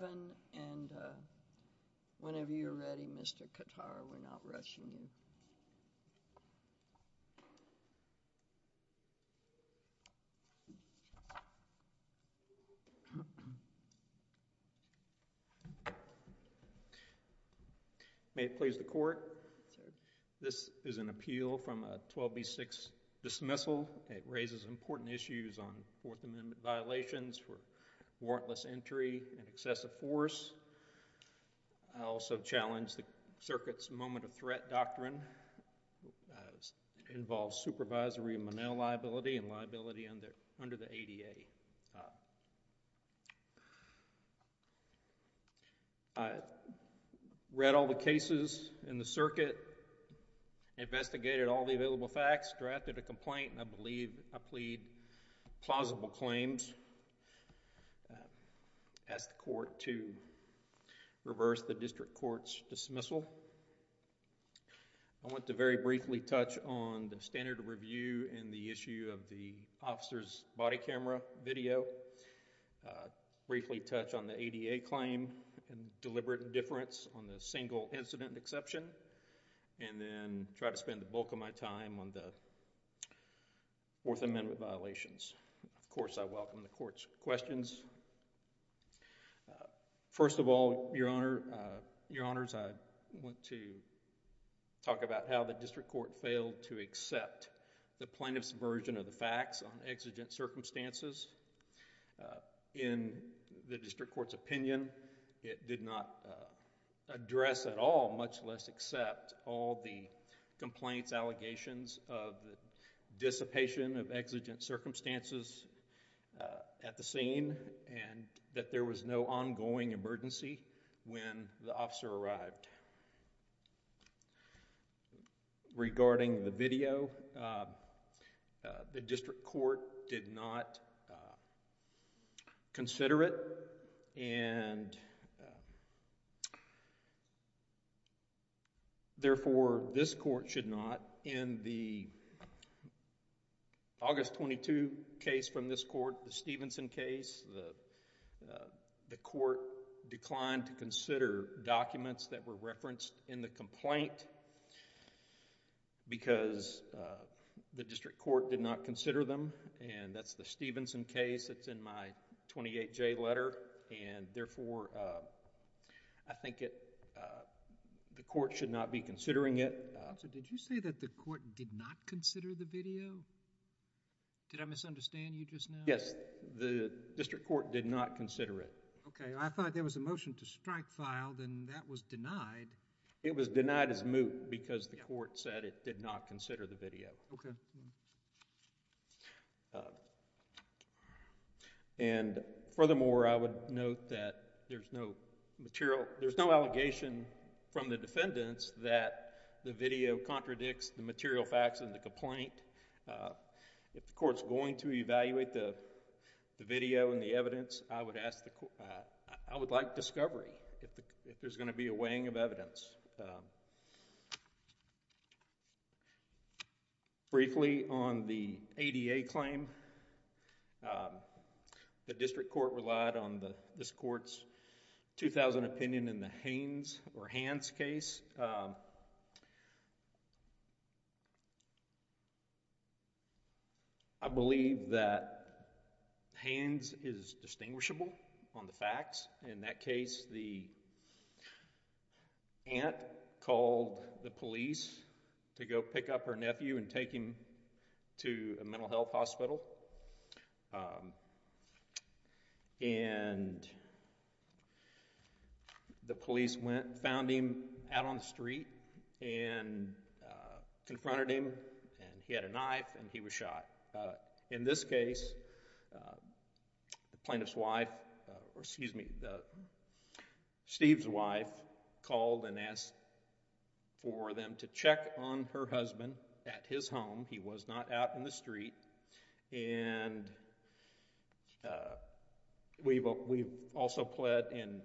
May it please the Court, this is an appeal from a 12B6 dismissal. It raises important issues on Fourth Amendment violations for warrantless entry and excessive force. I also challenge the circuit's moment of threat doctrine that involves supervisory Monell liability and liability under the ADA. I read all the cases in the circuit, investigated all the available facts, drafted a complaint and I believe I plead plausible claims, ask the Court to reverse the district court's dismissal. I want to very briefly touch on the standard review and the issue of the officer's body camera video, briefly touch on the ADA claim and deliberate indifference on the single incident exception and then try to spend the bulk of my time on the Fourth Amendment violations. Of course, I welcome the Court's questions. First of all, Your Honors, I want to talk about how the district court failed to accept the plaintiff's version of the facts on exigent circumstances. In the district court's opinion, it did not address at all, much less accept all the complaints, allegations of dissipation of exigent circumstances at the scene and that there was no ongoing emergency when the officer arrived. Regarding the video, the district court did not consider it and therefore, this court should not. In the August 22 case from this court, the Stevenson case, the court declined to consider documents that were referenced in the complaint because the district court did not consider them. That's the Stevenson case that's in my 28J letter and therefore, I think the court should not be considering it. Did you say that the court did not consider the video? Did I misunderstand you just now? Yes. The district court did not consider it. Okay. I thought there was a motion to strike filed and that was denied. It was denied as moot because the court said it did not consider the video. Okay. And furthermore, I would note that there's no material, there's no allegation from the defendants that the video contradicts the material facts in the complaint. If the court's going to evaluate the video and the evidence, I would ask, I would like discovery if there's going to be a weighing of evidence. Briefly on the ADA claim, the district court relied on this court's 2,000 opinion in the I believe that Haynes is distinguishable on the facts. In that case, the aunt called the police to go pick up her nephew and take him to a mental health hospital and the police went and found him out on the street and confronted him and he had a knife and he was shot. In this case, the plaintiff's wife, excuse me, Steve's wife called and asked for them to check on her husband at his home. He was not out in the street and we also pled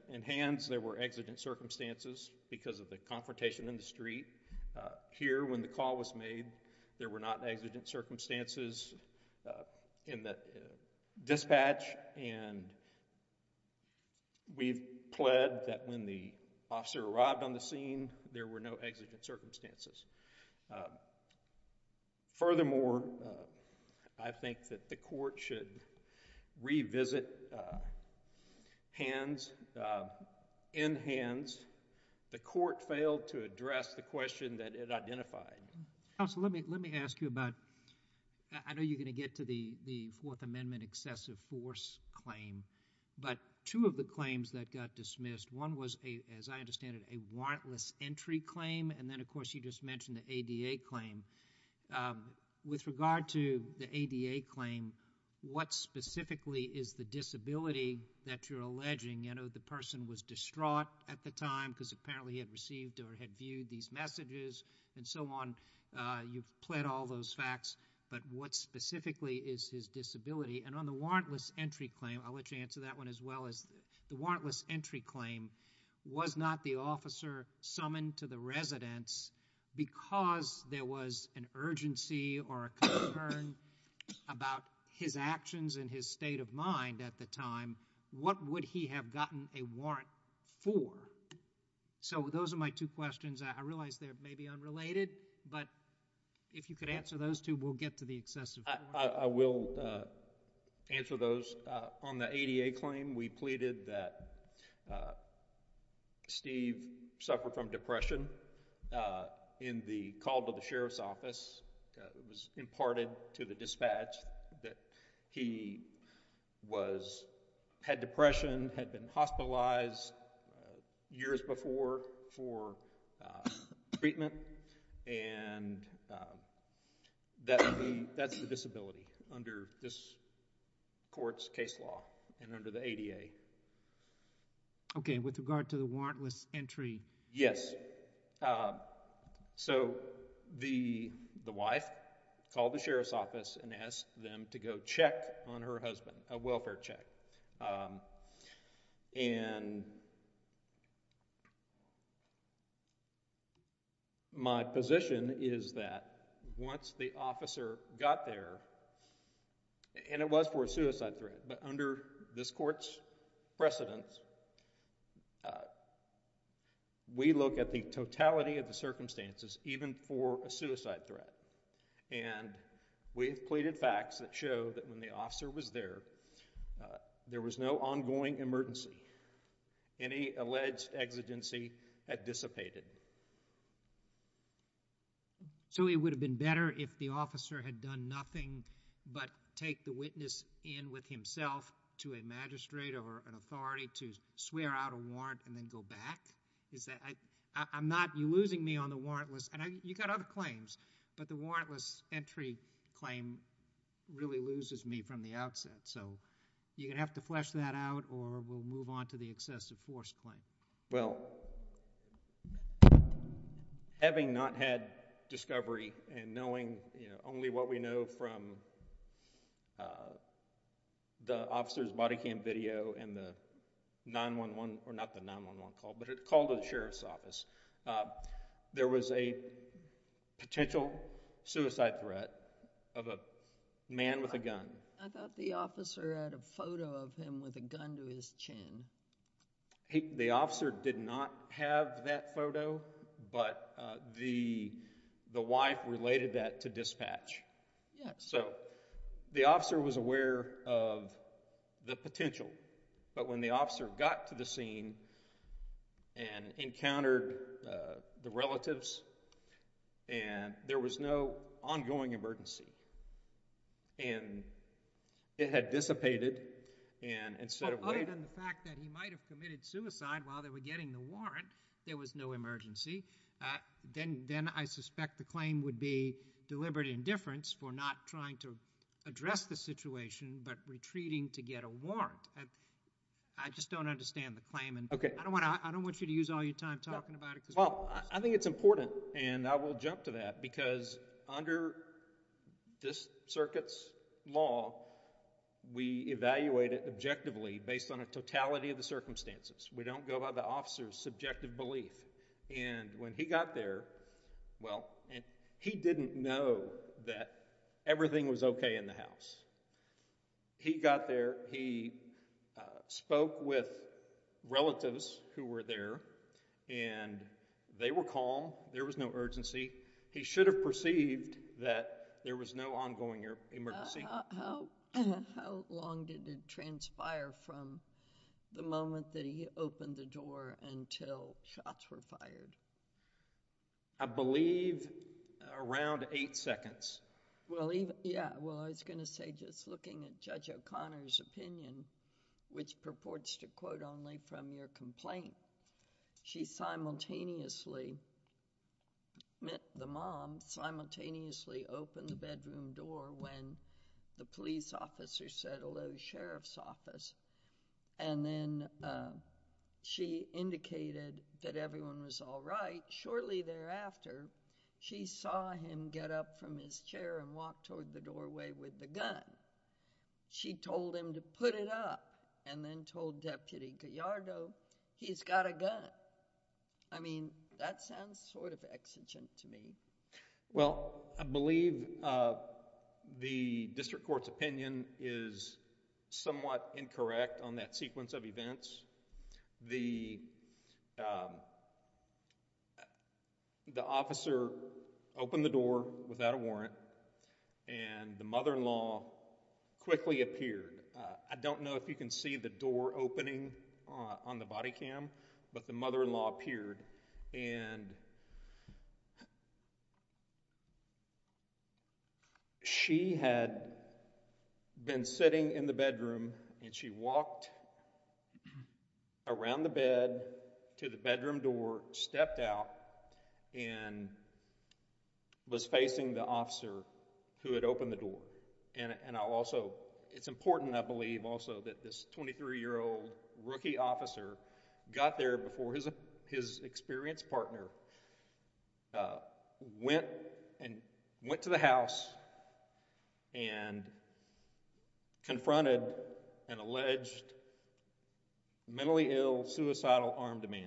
in hands. There were exigent circumstances because of the confrontation in the street. Here, when the call was made, there were not exigent circumstances in the dispatch and we've pled that when the officer arrived on the scene, there were no exigent circumstances. Furthermore, I think that the court should revisit hands, in hands. The court failed to address the question that it identified. Counsel, let me ask you about, I know you're going to get to the Fourth Amendment excessive force claim, but two of the claims that got dismissed, one was a, as I understand it, a warrantless entry claim and then of course you just mentioned the ADA claim. With regard to the ADA claim, what specifically is the disability that you're alleging? The person was distraught at the time because apparently he had received or had viewed these messages and so on. You've pled all those facts, but what specifically is his disability? On the warrantless entry claim, I'll let you answer that one as well, the warrantless entry claim was not the officer summoned to the residence because there was an urgency or concern about his actions and his state of mind at the time. What would he have gotten a warrant for? So those are my two questions. I realize they're maybe unrelated, but if you could answer those two, we'll get to the excessive force. I will answer those. On the ADA claim, we pleaded that Steve suffered from depression in the call to the Sheriff's Office. It was imparted to the dispatch that he was, had depression, had been hospitalized years before for treatment and that's the disability under this court's case law and under the Okay. And with regard to the warrantless entry? Yes. Okay. So the wife called the Sheriff's Office and asked them to go check on her husband, a welfare check, and my position is that once the officer got there, and it was for a suicide threat, but under this court's precedence, we look at the totality of the circumstances even for a suicide threat and we've pleaded facts that show that when the officer was there, there was no ongoing emergency. Any alleged exigency had dissipated. So it would have been better if the officer had done nothing but take the witness in with himself to a magistrate or an authority to swear out a warrant and then go back? Is that, I'm not, you're losing me on the warrantless, and you got other claims, but the warrantless entry claim really loses me from the outset. So you're going to have to flesh that out or we'll move on to the excessive force claim. Well, having not had discovery and knowing only what we know from the officer's body cam video and the 9-1-1, or not the 9-1-1 call, but a call to the Sheriff's Office, there was a potential suicide threat of a man with a gun. I thought the officer had a photo of him with a gun to his chin. The officer did not have that photo, but the wife related that to dispatch. So the officer was aware of the potential, but when the officer got to the scene and encountered the relatives, and there was no ongoing emergency, and it had dissipated, and instead of waiting... Well, other than the fact that he might have committed suicide while they were getting the warrant, there was no emergency, then I suspect the claim would be deliberate indifference for not trying to address the situation, but retreating to get a warrant. I just don't understand the claim, and I don't want you to use all your time talking about it. Well, I think it's important, and I will jump to that, because under this circuit's law, we evaluate it objectively based on a totality of the circumstances. We don't go by the officer's subjective belief, and when he got there, well, he didn't know that everything was okay in the house. He got there, he spoke with relatives who were there, and they were calm. There was no urgency. He should have perceived that there was no ongoing emergency. How long did it transpire from the moment that he opened the door until shots were fired? I believe around eight seconds. Well, yeah. Well, I was going to say just looking at Judge O'Connor's opinion, which purports to quote only from your complaint, she simultaneously, the mom, simultaneously opened the bedroom door when the police officer said hello to the sheriff's office, and then she indicated that everyone was all right. Shortly thereafter, she saw him get up from his chair and walk toward the doorway with the gun. She told him to put it up and then told Deputy Gallardo, he's got a gun. I mean, that sounds sort of exigent to me. Well, I believe the district court's opinion is somewhat incorrect on that sequence of events. The officer opened the door without a warrant and the mother-in-law quickly appeared. I don't know if you can see the door opening on the body cam, but the mother-in-law appeared and she had been sitting in the bedroom and she walked around the bed to the bedroom door, stepped out, and was facing the officer who had opened the door. And I'll also, it's important I believe also that this 23-year-old rookie officer got there before his experienced partner went and went to the house and confronted an alleged mentally ill, suicidal armed man.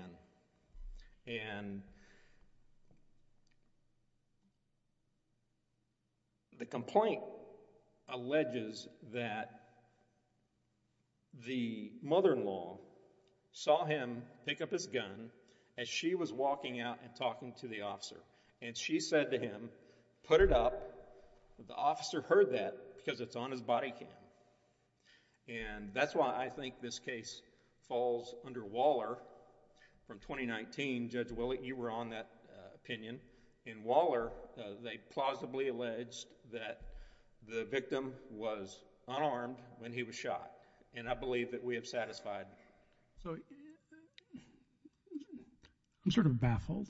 And the complaint alleges that the mother-in-law saw him pick up his gun as she was walking out and talking to the officer. And she said to him, put it up. The officer heard that because it's on his body cam. And that's why I think this case falls under Waller from 2019. Judge Willie, you were on that opinion. In Waller, they plausibly alleged that the victim was unarmed when he was shot. And I believe that we have satisfied... So, I'm sort of baffled.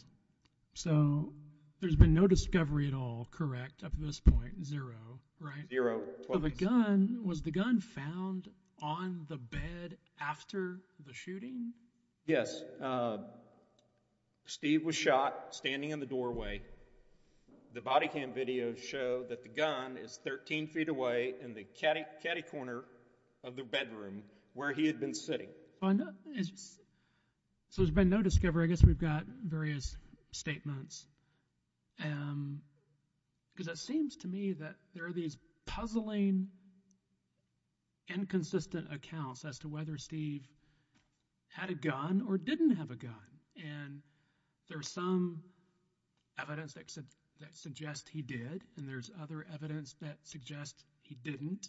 So, there's been no discovery at all, correct, up to this point, zero, right? Zero. So, the gun, was the gun found on the bed after the shooting? Yes. Steve was shot standing in the doorway. The body cam video showed that the gun is 13 feet away in the caddy corner of the bedroom where he had been sitting. So, there's been no discovery. I guess we've got various statements. Because it seems to me that there are these puzzling, inconsistent accounts as to whether Steve had a gun or didn't have a gun. And there's some evidence that suggests he did. And there's other evidence that suggests he didn't.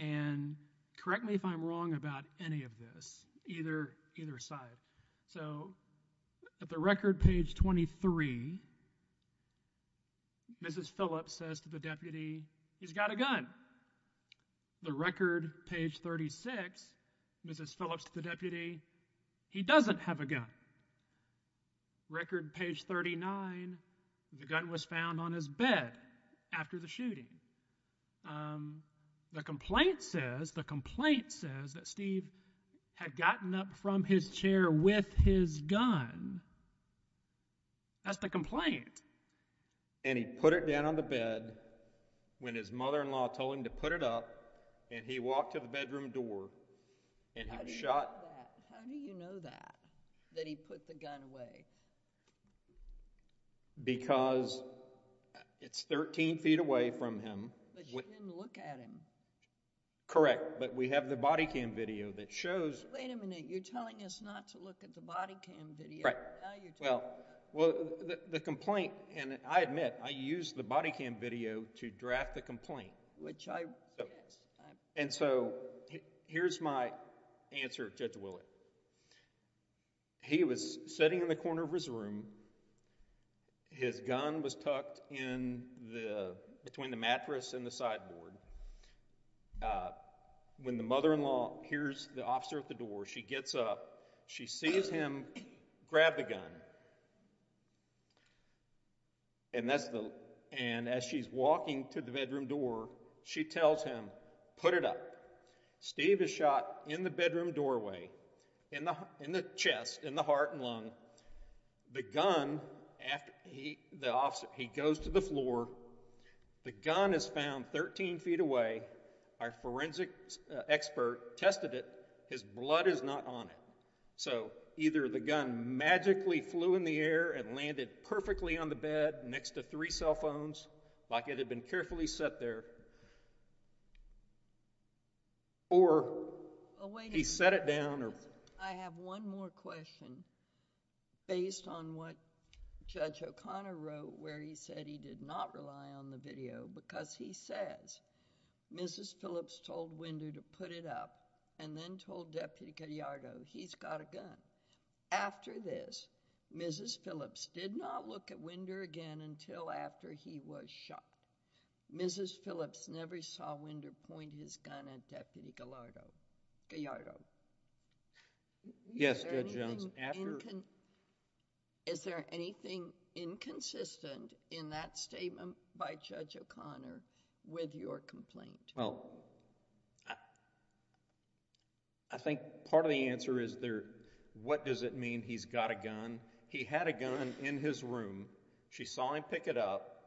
And correct me if I'm wrong about any of this, either side. So, at the record page 23, Mrs. Phillips says to the deputy, he's got a gun. The record page 36, Mrs. Phillips to the deputy, he doesn't have a gun. Record page 39, the gun was found on his bed after the shooting. The complaint says, the complaint says that Steve had gotten up from his chair with his gun. That's the complaint. And he put it down on the bed when his mother-in-law told him to put it up. And he walked to the bedroom door and he was shot. How do you know that? That he put the gun away? Because it's 13 feet away from him. But you didn't look at him. Correct. But we have the body cam video that shows... Wait a minute. You're telling us not to look at the body cam video. Right. Well, the complaint, and I admit, I used the body cam video to draft the complaint. Which I... And so, here's my answer to Judge Willett. He was sitting in the corner of his room. His gun was tucked in between the mattress and the sideboard. When the mother-in-law hears the officer at the door, she gets up. She sees him grab the gun. And as she's walking to the bedroom door, she tells him, put it up. Steve is shot in the bedroom doorway, in the chest, in the heart and lung. The gun... He goes to the floor. The gun is found 13 feet away. Our forensic expert tested it. His blood is not on it. So, either the gun magically flew in the air and landed perfectly on the bed next to three cell phones, like it had been carefully set there, or he set it down or... I have one more question based on what Judge O'Connor wrote where he said he did not rely on the video because he says Mrs. Phillips told Winder to put it up and then told Deputy Gallardo he's got a gun. After this, Mrs. Phillips did not look at Winder again until after he was shot. Mrs. Phillips never saw Winder point his gun at Deputy Gallardo. Yes, Judge Jones. Is there anything inconsistent in that statement by Judge O'Connor with your complaint? Well, I think part of the answer is there... What does it mean he's got a gun? He had a gun in his room. She saw him pick it up.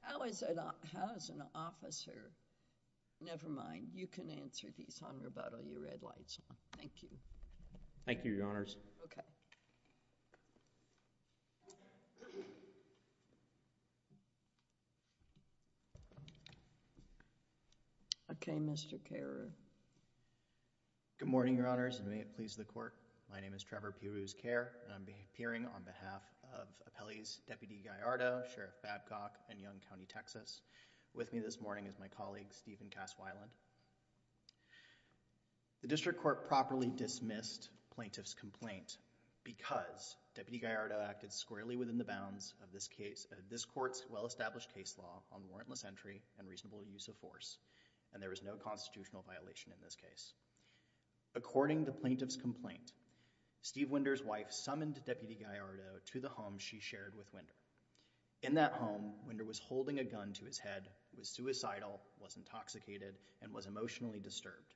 How is an officer... Never mind. You can answer these on rebuttal. Your red light's on. Thank you. Thank you, Your Honors. Okay. Okay, Mr. Carew. Good morning, Your Honors, and may it please the Court. My name is Trevor Perews-Care, and I'm appearing on behalf of appellees Deputy Gallardo, Sheriff Babcock, and Young County, Texas. With me this morning is my colleague, Stephen Caswiland. The district court properly dismissed plaintiff's complaint because Deputy Gallardo acted squarely within the bounds of this court's well-established case law on warrantless entry and reasonable use of force, and there was no constitutional violation in this case. According to plaintiff's complaint, Steve Winder's wife summoned Deputy Gallardo to the home she shared with Winder. In that home, Winder was holding a gun to his head, was suicidal, was intoxicated, and was emotionally disturbed.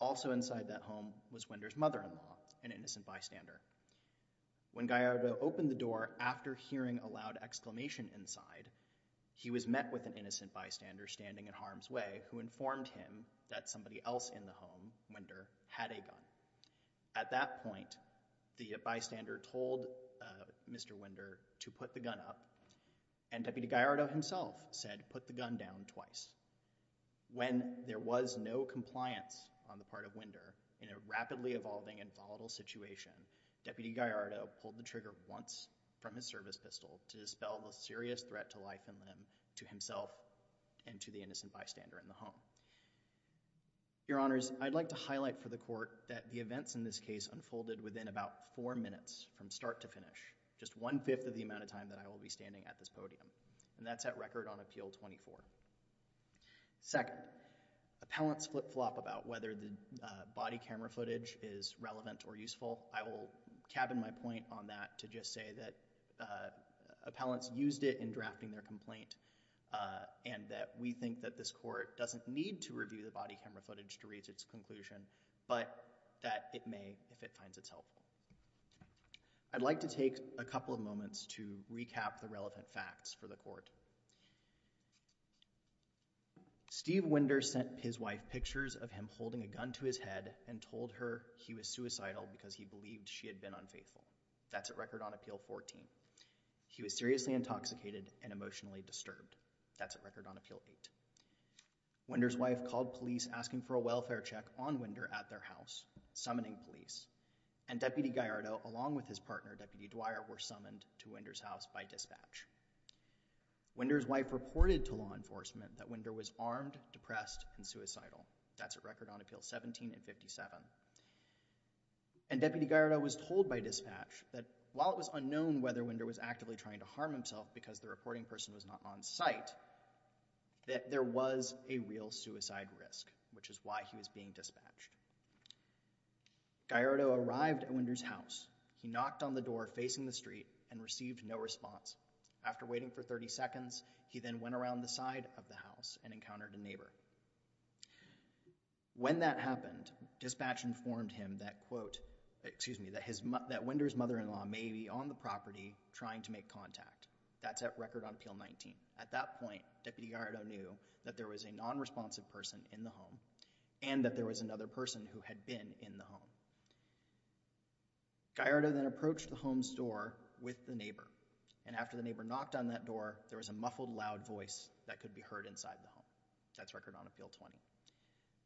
Also inside that home was Winder's mother-in-law, an innocent bystander. When Gallardo opened the door after hearing a loud exclamation inside, he was met with an innocent bystander standing in harm's way who informed him that somebody else in the home, Winder, had a gun. At that point, the bystander told Mr. Winder to put the gun up, and Deputy Gallardo himself said, put the gun down twice. When there was no compliance on the part of Winder in a rapidly evolving and volatile situation, Deputy Gallardo pulled the trigger once from his service pistol to dispel the and to the innocent bystander in the home. Your Honors, I'd like to highlight for the Court that the events in this case unfolded within about four minutes from start to finish, just one-fifth of the amount of time that I will be standing at this podium, and that's at record on Appeal 24. Second, appellants flip-flop about whether the body camera footage is relevant or useful. I will cabin my point on that to just say that appellants used it in drafting their complaint, and that we think that this Court doesn't need to review the body camera footage to reach its conclusion, but that it may if it finds it helpful. I'd like to take a couple of moments to recap the relevant facts for the Court. Steve Winder sent his wife pictures of him holding a gun to his head and told her he was suicidal because he believed she had been unfaithful. That's at record on Appeal 14. He was seriously intoxicated and emotionally disturbed. That's at record on Appeal 8. Winder's wife called police asking for a welfare check on Winder at their house, summoning police, and Deputy Gallardo, along with his partner, Deputy Dwyer, were summoned to Winder's house by dispatch. Winder's wife reported to law enforcement that Winder was armed, depressed, and suicidal. That's at record on Appeals 17 and 57. And Deputy Gallardo was told by dispatch that while it was unknown whether Winder was actively trying to harm himself because the reporting person was not on site, that there was a real suicide risk, which is why he was being dispatched. Gallardo arrived at Winder's house. He knocked on the door facing the street and received no response. After waiting for 30 seconds, he then went around the side of the house and encountered a neighbor. When that happened, dispatch informed him that, quote, excuse me, that Winder's mother-in-law may be on the property trying to make contact. That's at record on Appeal 19. At that point, Deputy Gallardo knew that there was a nonresponsive person in the home and that there was another person who had been in the home. Gallardo then approached the home's door with the neighbor, and after the neighbor knocked on that door, there was a muffled, loud voice that could be heard inside the home. That's record on Appeal 20.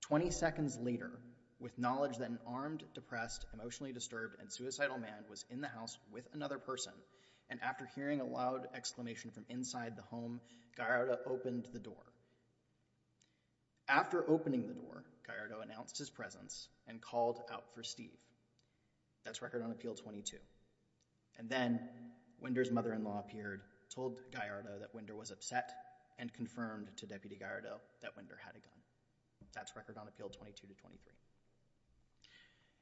20 seconds later, with knowledge that an armed, depressed, emotionally disturbed, and suicidal man was in the house with another person, and after hearing a loud exclamation from inside the home, Gallardo opened the door. After opening the door, Gallardo announced his presence and called out for Steve. That's record on Appeal 22. And then, Winder's mother-in-law appeared, told Gallardo that Winder was upset, and confirmed to Deputy Gallardo that Winder had a gun. That's record on Appeal 22 to 23.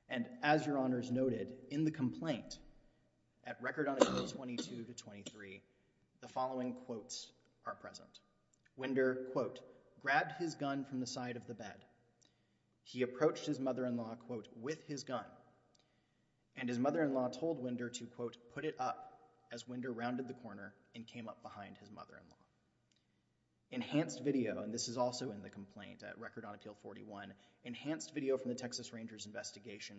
And as Your Honors noted, in the complaint, at record on Appeal 22 to 23, the following quotes are present. Winder, quote, grabbed his gun from the side of the bed. He approached his mother-in-law, quote, with his gun, and his mother-in-law told Winder to, quote, put it up as Winder rounded the corner and came up behind his mother-in-law. Enhanced video, and this is also in the complaint at record on Appeal 41, enhanced video from the Texas Rangers investigation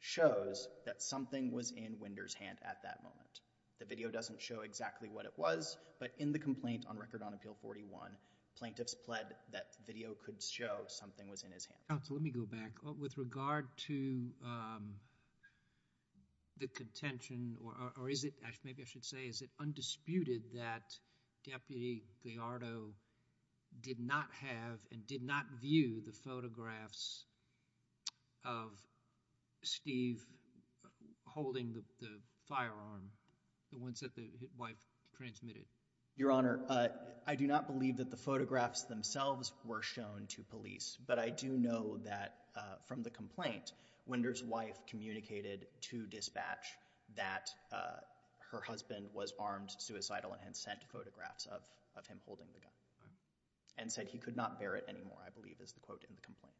shows that something was in Winder's hand at that moment. The video doesn't show exactly what it was, but in the complaint on record on Appeal 41, plaintiffs pled that video could show something was in his hand. Counsel, let me go back. With regard to the contention, or is it, maybe I should say, is it undisputed that Deputy Gallardo did not have and did not view the photographs of Steve holding the firearm, the ones that the wife transmitted? Your Honor, I do not believe that the photographs themselves were shown to police, but I do know that from the complaint, Winder's wife communicated to dispatch that her husband was armed, suicidal, and had sent photographs of him holding the gun and said he could not bear it anymore, I believe is the quote in the complaint.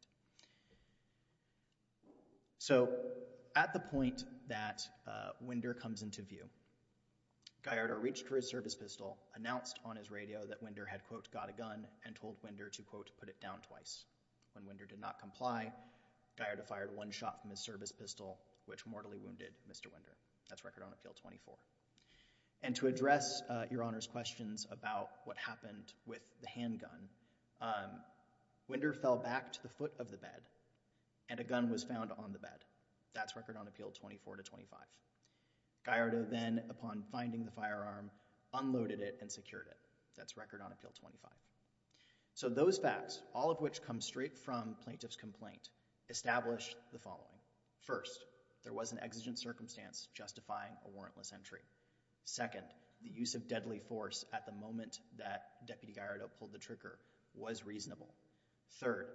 So, at the point that Winder comes into view, Gallardo reached for his service pistol, announced on his radio that Winder had, quote, got a gun, and told Winder to, quote, put it down twice. When Winder did not comply, Gallardo fired one shot from his service pistol, which mortally wounded Mr. Winder. That's record on Appeal 24. And to address Your Honor's questions about what happened with the handgun, Winder fell back to the foot of the bed, and a gun was found on the bed. That's record on Appeal 24 to 25. Gallardo then, upon finding the firearm, unloaded it and secured it. That's record on Appeal 25. So those facts, all of which come straight from Plaintiff's complaint, establish the following. First, there was an exigent circumstance justifying a warrantless entry. Second, the use of deadly force at the moment that Deputy Gallardo pulled the trigger was reasonable. Third,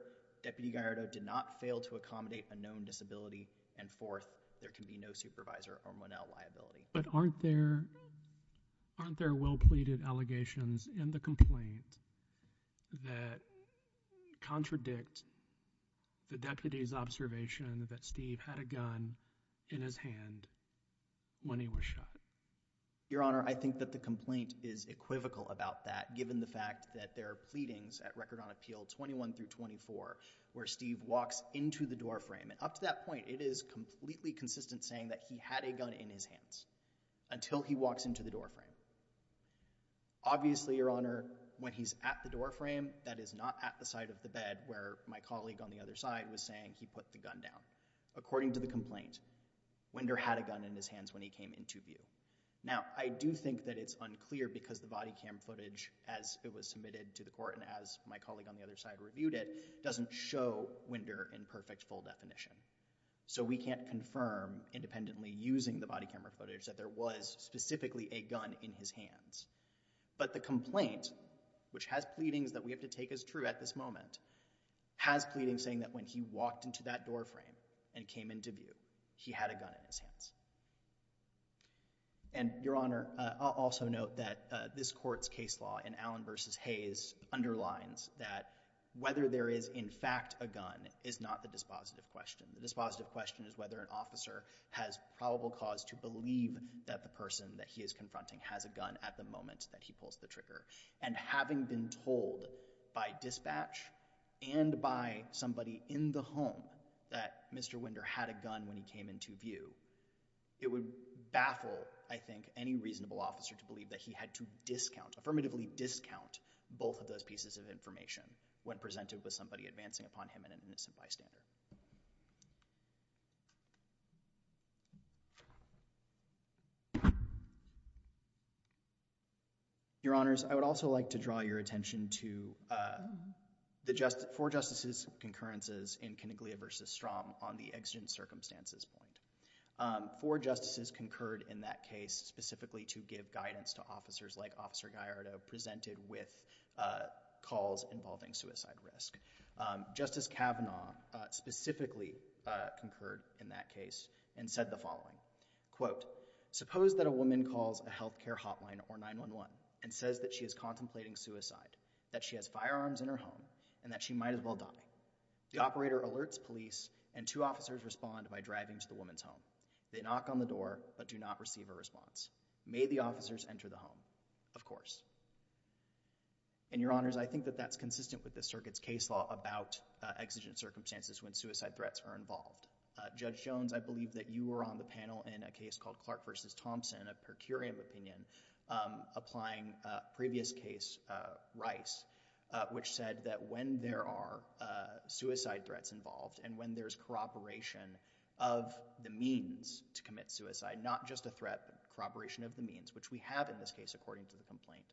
Deputy Gallardo did not fail to accommodate a known disability. And fourth, there can be no supervisor or Monell liability. But aren't there well-pleaded allegations in the complaint that contradict the deputy's observation that Steve had a gun in his hand when he was shot? Your Honor, I think that the complaint is equivocal about that, given the fact that there are pleadings at record on Appeal 21 through 24 where Steve walks into the door frame. And up to that point, it is completely consistent saying that he had a gun in his hands until he walks into the door frame. Obviously, Your Honor, when he's at the door frame, that is not at the side of the bed where my colleague on the other side was saying he put the gun down. According to the complaint, Winder had a gun in his hands when he came into view. Now, I do think that it's unclear because the body cam footage, as it was submitted to the court and as my colleague on the other side reviewed it, doesn't show Winder in perfect full definition. So we can't confirm independently using the body camera footage that there was specifically a gun in his hands. But the complaint, which has pleadings that we have to take as true at this moment, has pleadings saying that when he walked into that door frame and came into view, he had a gun in his hands. And, Your Honor, I'll also note that this court's case law in Allen v. Hayes underlines that whether there is in fact a gun is not the dispositive question. The dispositive question is whether an officer has probable cause to believe that the person that he is confronting has a gun at the moment that he pulls the trigger. And having been told by dispatch and by somebody in the home that Mr. Winder had a gun when he came into view, it would baffle, I think, any reasonable officer to believe that he had to discount, affirmatively discount, both of those pieces of information when presented with somebody advancing upon him an innocent bystander. Your Honors, I would also like to draw your attention to four justices' concurrences in Coniglia v. Strom on the exigent circumstances point. Four justices concurred in that case specifically to give guidance to officers like Officer Gallardo presented with calls involving suicide risk. Justice Kavanaugh specifically concurred in that case and said the following, quote, suppose that a woman calls a health care hotline or 911 and says that she is contemplating suicide, that she has firearms in her home, and that she might as well die. The operator alerts police and two officers respond by driving to the woman's home. They knock on the door but do not receive a response. May the officers enter the home? Of course. And Your Honors, I think that that's consistent with the circuit's case law about exigent circumstances when suicide threats are involved. Judge Jones, I believe that you were on the panel in a case called Clark v. Thompson, in a per curiam opinion, applying previous case Rice, which said that when there are suicide threats involved and when there's corroboration of the means to commit suicide, not just a threat, but corroboration of the means, which we have in this case according to the complaint,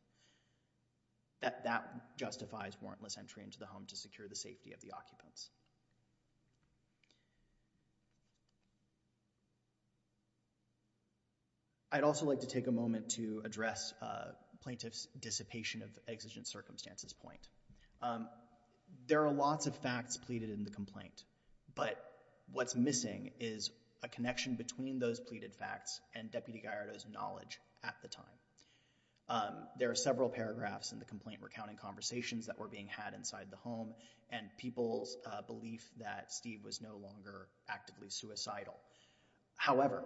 that that justifies warrantless entry into the home to secure the safety of the occupants. I'd also like to take a moment to address plaintiff's dissipation of exigent circumstances point. There are lots of facts pleaded in the complaint, but what's missing is a connection between those pleaded facts and Deputy Gallardo's knowledge at the time. There are several paragraphs in the complaint recounting conversations that were being had inside the home and people's belief that Steve was no longer actively suicidal. However,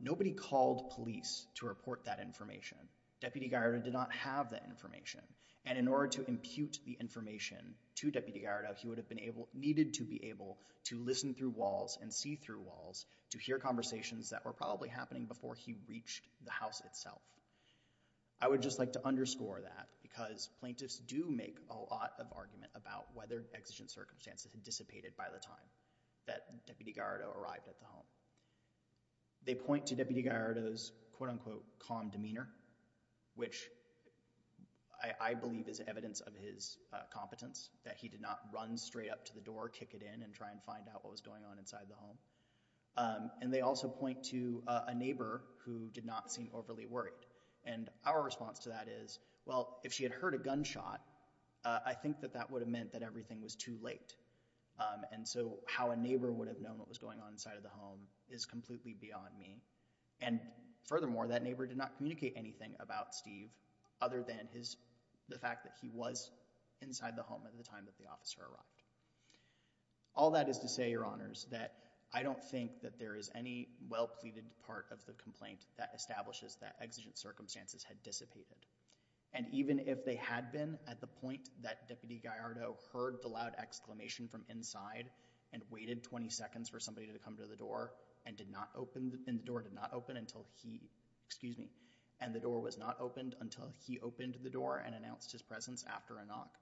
nobody called police to report that information. Deputy Gallardo did not have that information, and in order to impute the information to Deputy Gallardo, he would have needed to be able to listen through walls and see through walls to hear conversations that were probably happening before he reached the house itself. I would just like to underscore that because plaintiffs do make a lot of argument about whether exigent circumstances had dissipated by the time that Deputy Gallardo arrived at the home. They point to Deputy Gallardo's quote-unquote calm demeanor, which I believe is evidence of his competence, that he did not run straight up to the door, kick it in, and try and find out what was going on inside the home. They also point to a neighbor who did not seem overly worried. Our response to that is, well, if she had heard a gunshot, I think that that would have indicated that everything was too late. And so how a neighbor would have known what was going on inside of the home is completely beyond me. And furthermore, that neighbor did not communicate anything about Steve other than the fact that he was inside the home at the time that the officer arrived. All that is to say, Your Honors, that I don't think that there is any well-pleaded part of the complaint that establishes that exigent circumstances had dissipated. And even if they had been at the point that Deputy Gallardo heard the loud exclamation from inside and waited 20 seconds for somebody to come to the door, and the door did not open until he, excuse me, and the door was not opened until he opened the door and announced his presence after a knock,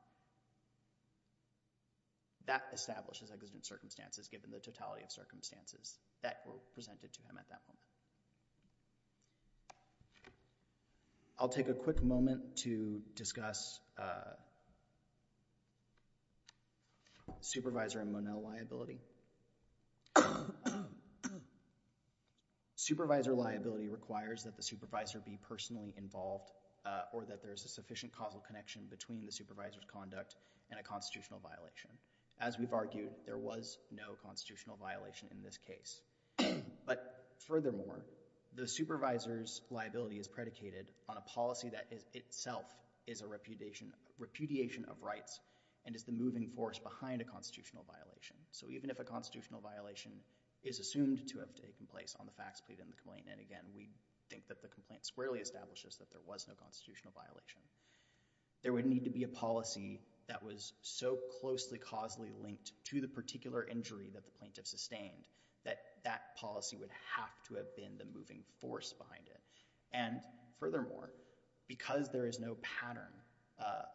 that establishes exigent circumstances given the totality of circumstances that were presented to him at that moment. I'll take a quick moment to discuss supervisor and Monell liability. Supervisor liability requires that the supervisor be personally involved or that there is a sufficient causal connection between the supervisor's conduct and a constitutional violation. As we've argued, there was no constitutional violation in this case. But furthermore, the supervisor's liability is predicated on a policy that itself is a repudiation of rights and is the moving force behind a constitutional violation. So even if a constitutional violation is assumed to have taken place on the facts pleaded in the complaint, and again, we think that the complaint squarely establishes that there was no constitutional violation, there would need to be a policy that was so closely causally linked to the particular injury that the plaintiff sustained that that policy would have to have been the moving force behind it. And furthermore, because there is no pattern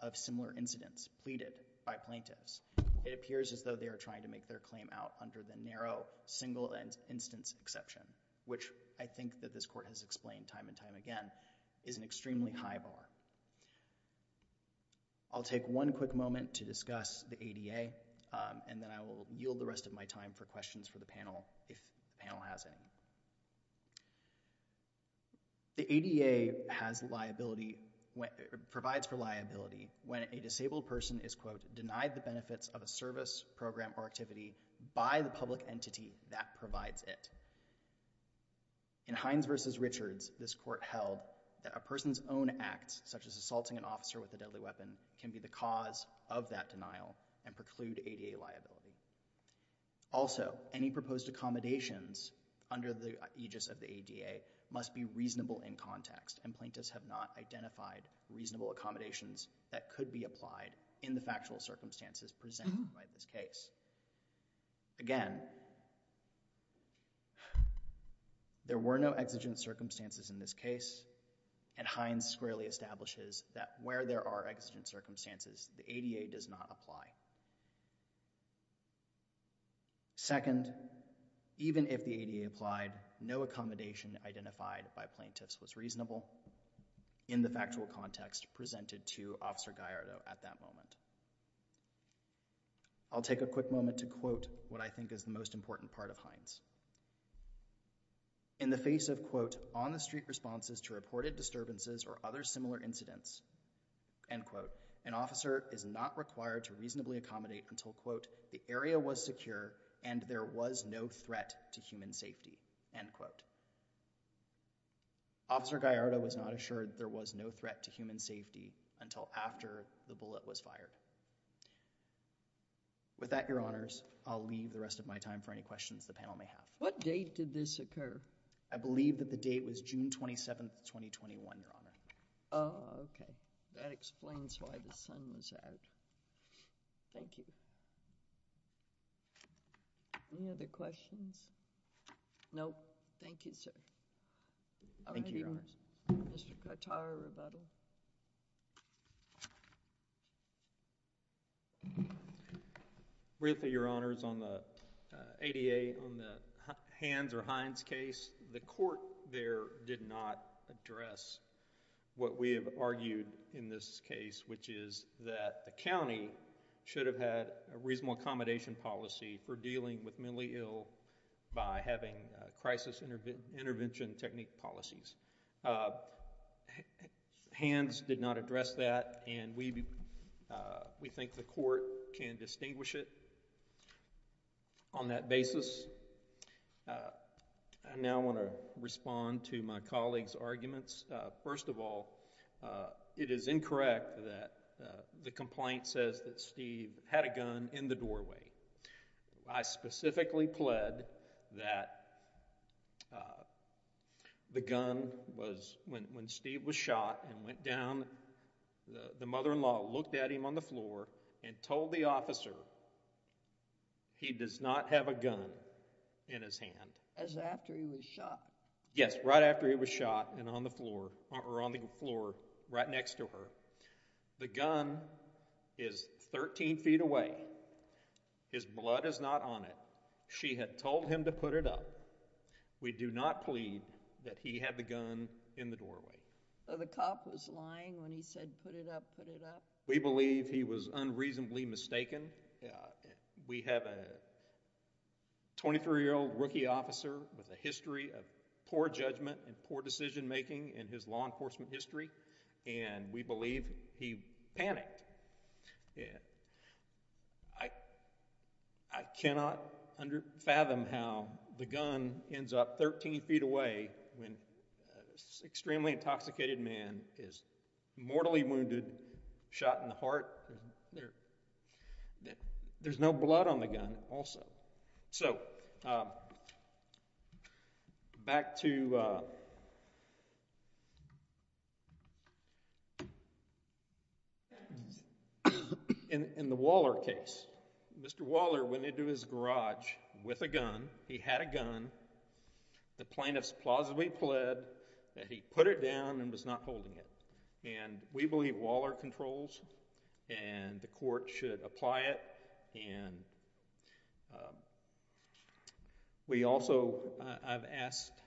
of similar incidents pleaded by plaintiffs, it appears as though they are trying to make their claim out under the narrow single instance exception, which I think that this court has explained time and time again is an extremely high bar. I'll take one quick moment to discuss the ADA, and then I will yield the rest of my time for questions for the panel, if the panel has any. The ADA provides for liability when a disabled person is, quote, denied the benefits of a service, program, or activity by the public entity that provides it. In Hines v. Richards, this court held that a person's own acts, such as assaulting an officer with a deadly weapon, can be the cause of that denial and preclude ADA liability. Also, any proposed accommodations under the aegis of the ADA must be reasonable in context, and plaintiffs have not identified reasonable accommodations that could be applied in the factual circumstances presented by this case. Again, there were no exigent circumstances in this case, and Hines squarely establishes that where there are exigent circumstances, the ADA does not apply. Second, even if the ADA applied, no accommodation identified by plaintiffs was reasonable in the factual context presented to Officer Gallardo at that moment. I'll take a quick moment to quote what I think is the most important part of Hines. In the face of, quote, on-the-street responses to reported disturbances or other similar incidents, end quote, an officer is not required to reasonably accommodate until, quote, the area was secure and there was no threat to human safety, end quote. Officer Gallardo was not assured there was no threat to human safety until after the bullet was fired. With that, Your Honors, I'll leave the rest of my time for any questions the panel may have. What date did this occur? I believe that the date was June 27, 2021, Your Honor. Oh, okay. That explains why the sun was out. Thank you. Any other questions? Nope. Thank you, sir. Thank you, Your Honors. Mr. Cotar, rebuttal. Really, Your Honors, on the ADA, on the Hans or Hines case, the court there did not address what we have argued in this case, which is that the county should have had a reasonable accommodation policy for dealing with mentally ill by having crisis intervention technique policies. Hans did not address that, and we think the court can distinguish it on that basis. I now want to respond to my colleague's arguments. First of all, it is incorrect that the complaint says that Steve had a gun in the doorway. I specifically pled that the gun was, when Steve was shot and went down, the mother-in-law looked at him on the floor and told the officer, he does not have a gun in his hand. As after he was shot? Yes, right after he was shot and on the floor, right next to her. The gun is 13 feet away. His blood is not on it. She had told him to put it up. We do not plead that he had the gun in the doorway. So the cop was lying when he said put it up, put it up? We believe he was unreasonably mistaken. We have a 23-year-old rookie officer with a history of poor judgment and poor decision-making in his law enforcement history, and we believe he panicked. I cannot fathom how the gun ends up 13 feet away when an extremely intoxicated man is mortally wounded, shot in the heart. There's no blood on the gun also. So back to the Waller case. Mr. Waller went into his garage with a gun. He had a gun. The plaintiffs plausibly pled that he put it down and was not holding it. We believe Waller controls, and the court should apply it and we also have asked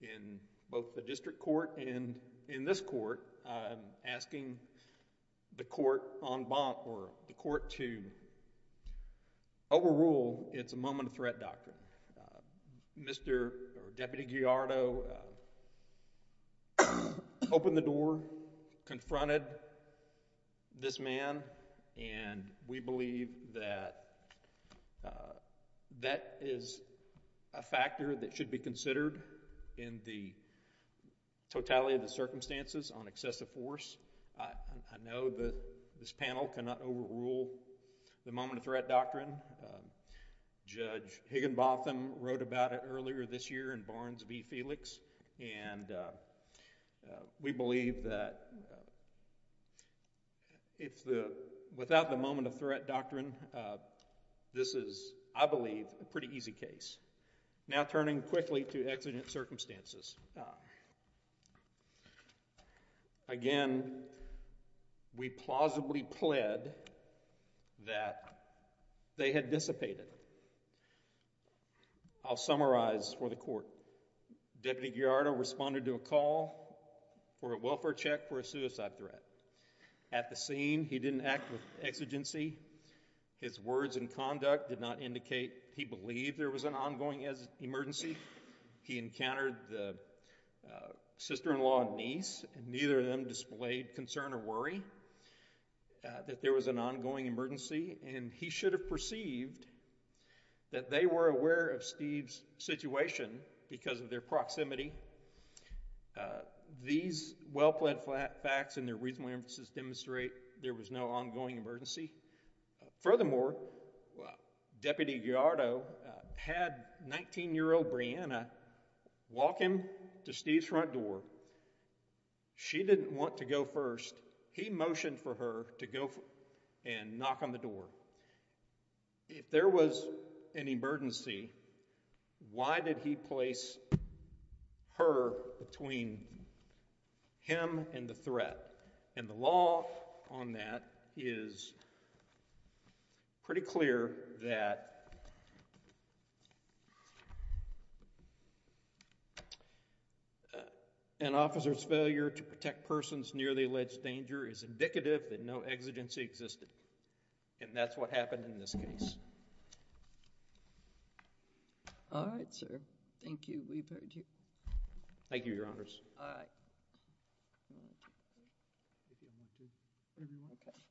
in both the district court and in this court, asking the court en banc or the court to overrule its moment of threat doctrine. Mr. or Deputy Gallardo opened the door, confronted this man, and we believe that that is a factor that should be considered in the totality of the circumstances on excessive force. I know that this panel cannot overrule the moment of threat doctrine. Judge Higginbotham wrote about it earlier this year in Barnes v. Felix, and we believe that without the moment of threat doctrine, this is, I believe, a pretty easy case. Now turning quickly to exigent circumstances. Again, we plausibly pled that they had dissipated. I'll summarize for the court. Deputy Gallardo responded to a call for a welfare check for a suicide threat. At the scene, he didn't act with exigency. His words and conduct did not indicate he believed there was an ongoing emergency. He encountered the sister-in-law and niece, and neither of them displayed concern or worry that there was an ongoing emergency, and he should have perceived that they were aware of Steve's situation because of their proximity. These well-pled facts and their reasonable emphasis demonstrate there was no ongoing emergency. Furthermore, Deputy Gallardo had 19-year-old Brianna walk him to Steve's front door. She didn't want to go first. He motioned for her to go and knock on the door. If there was an emergency, why did he place her between him and the threat? And the law on that is pretty clear that an officer's failure to protect persons near the alleged danger is indicative that no exigency existed, and that's what happened in this case. All right, sir. Thank you. We've heard you. Thank you, Your Honors. All right.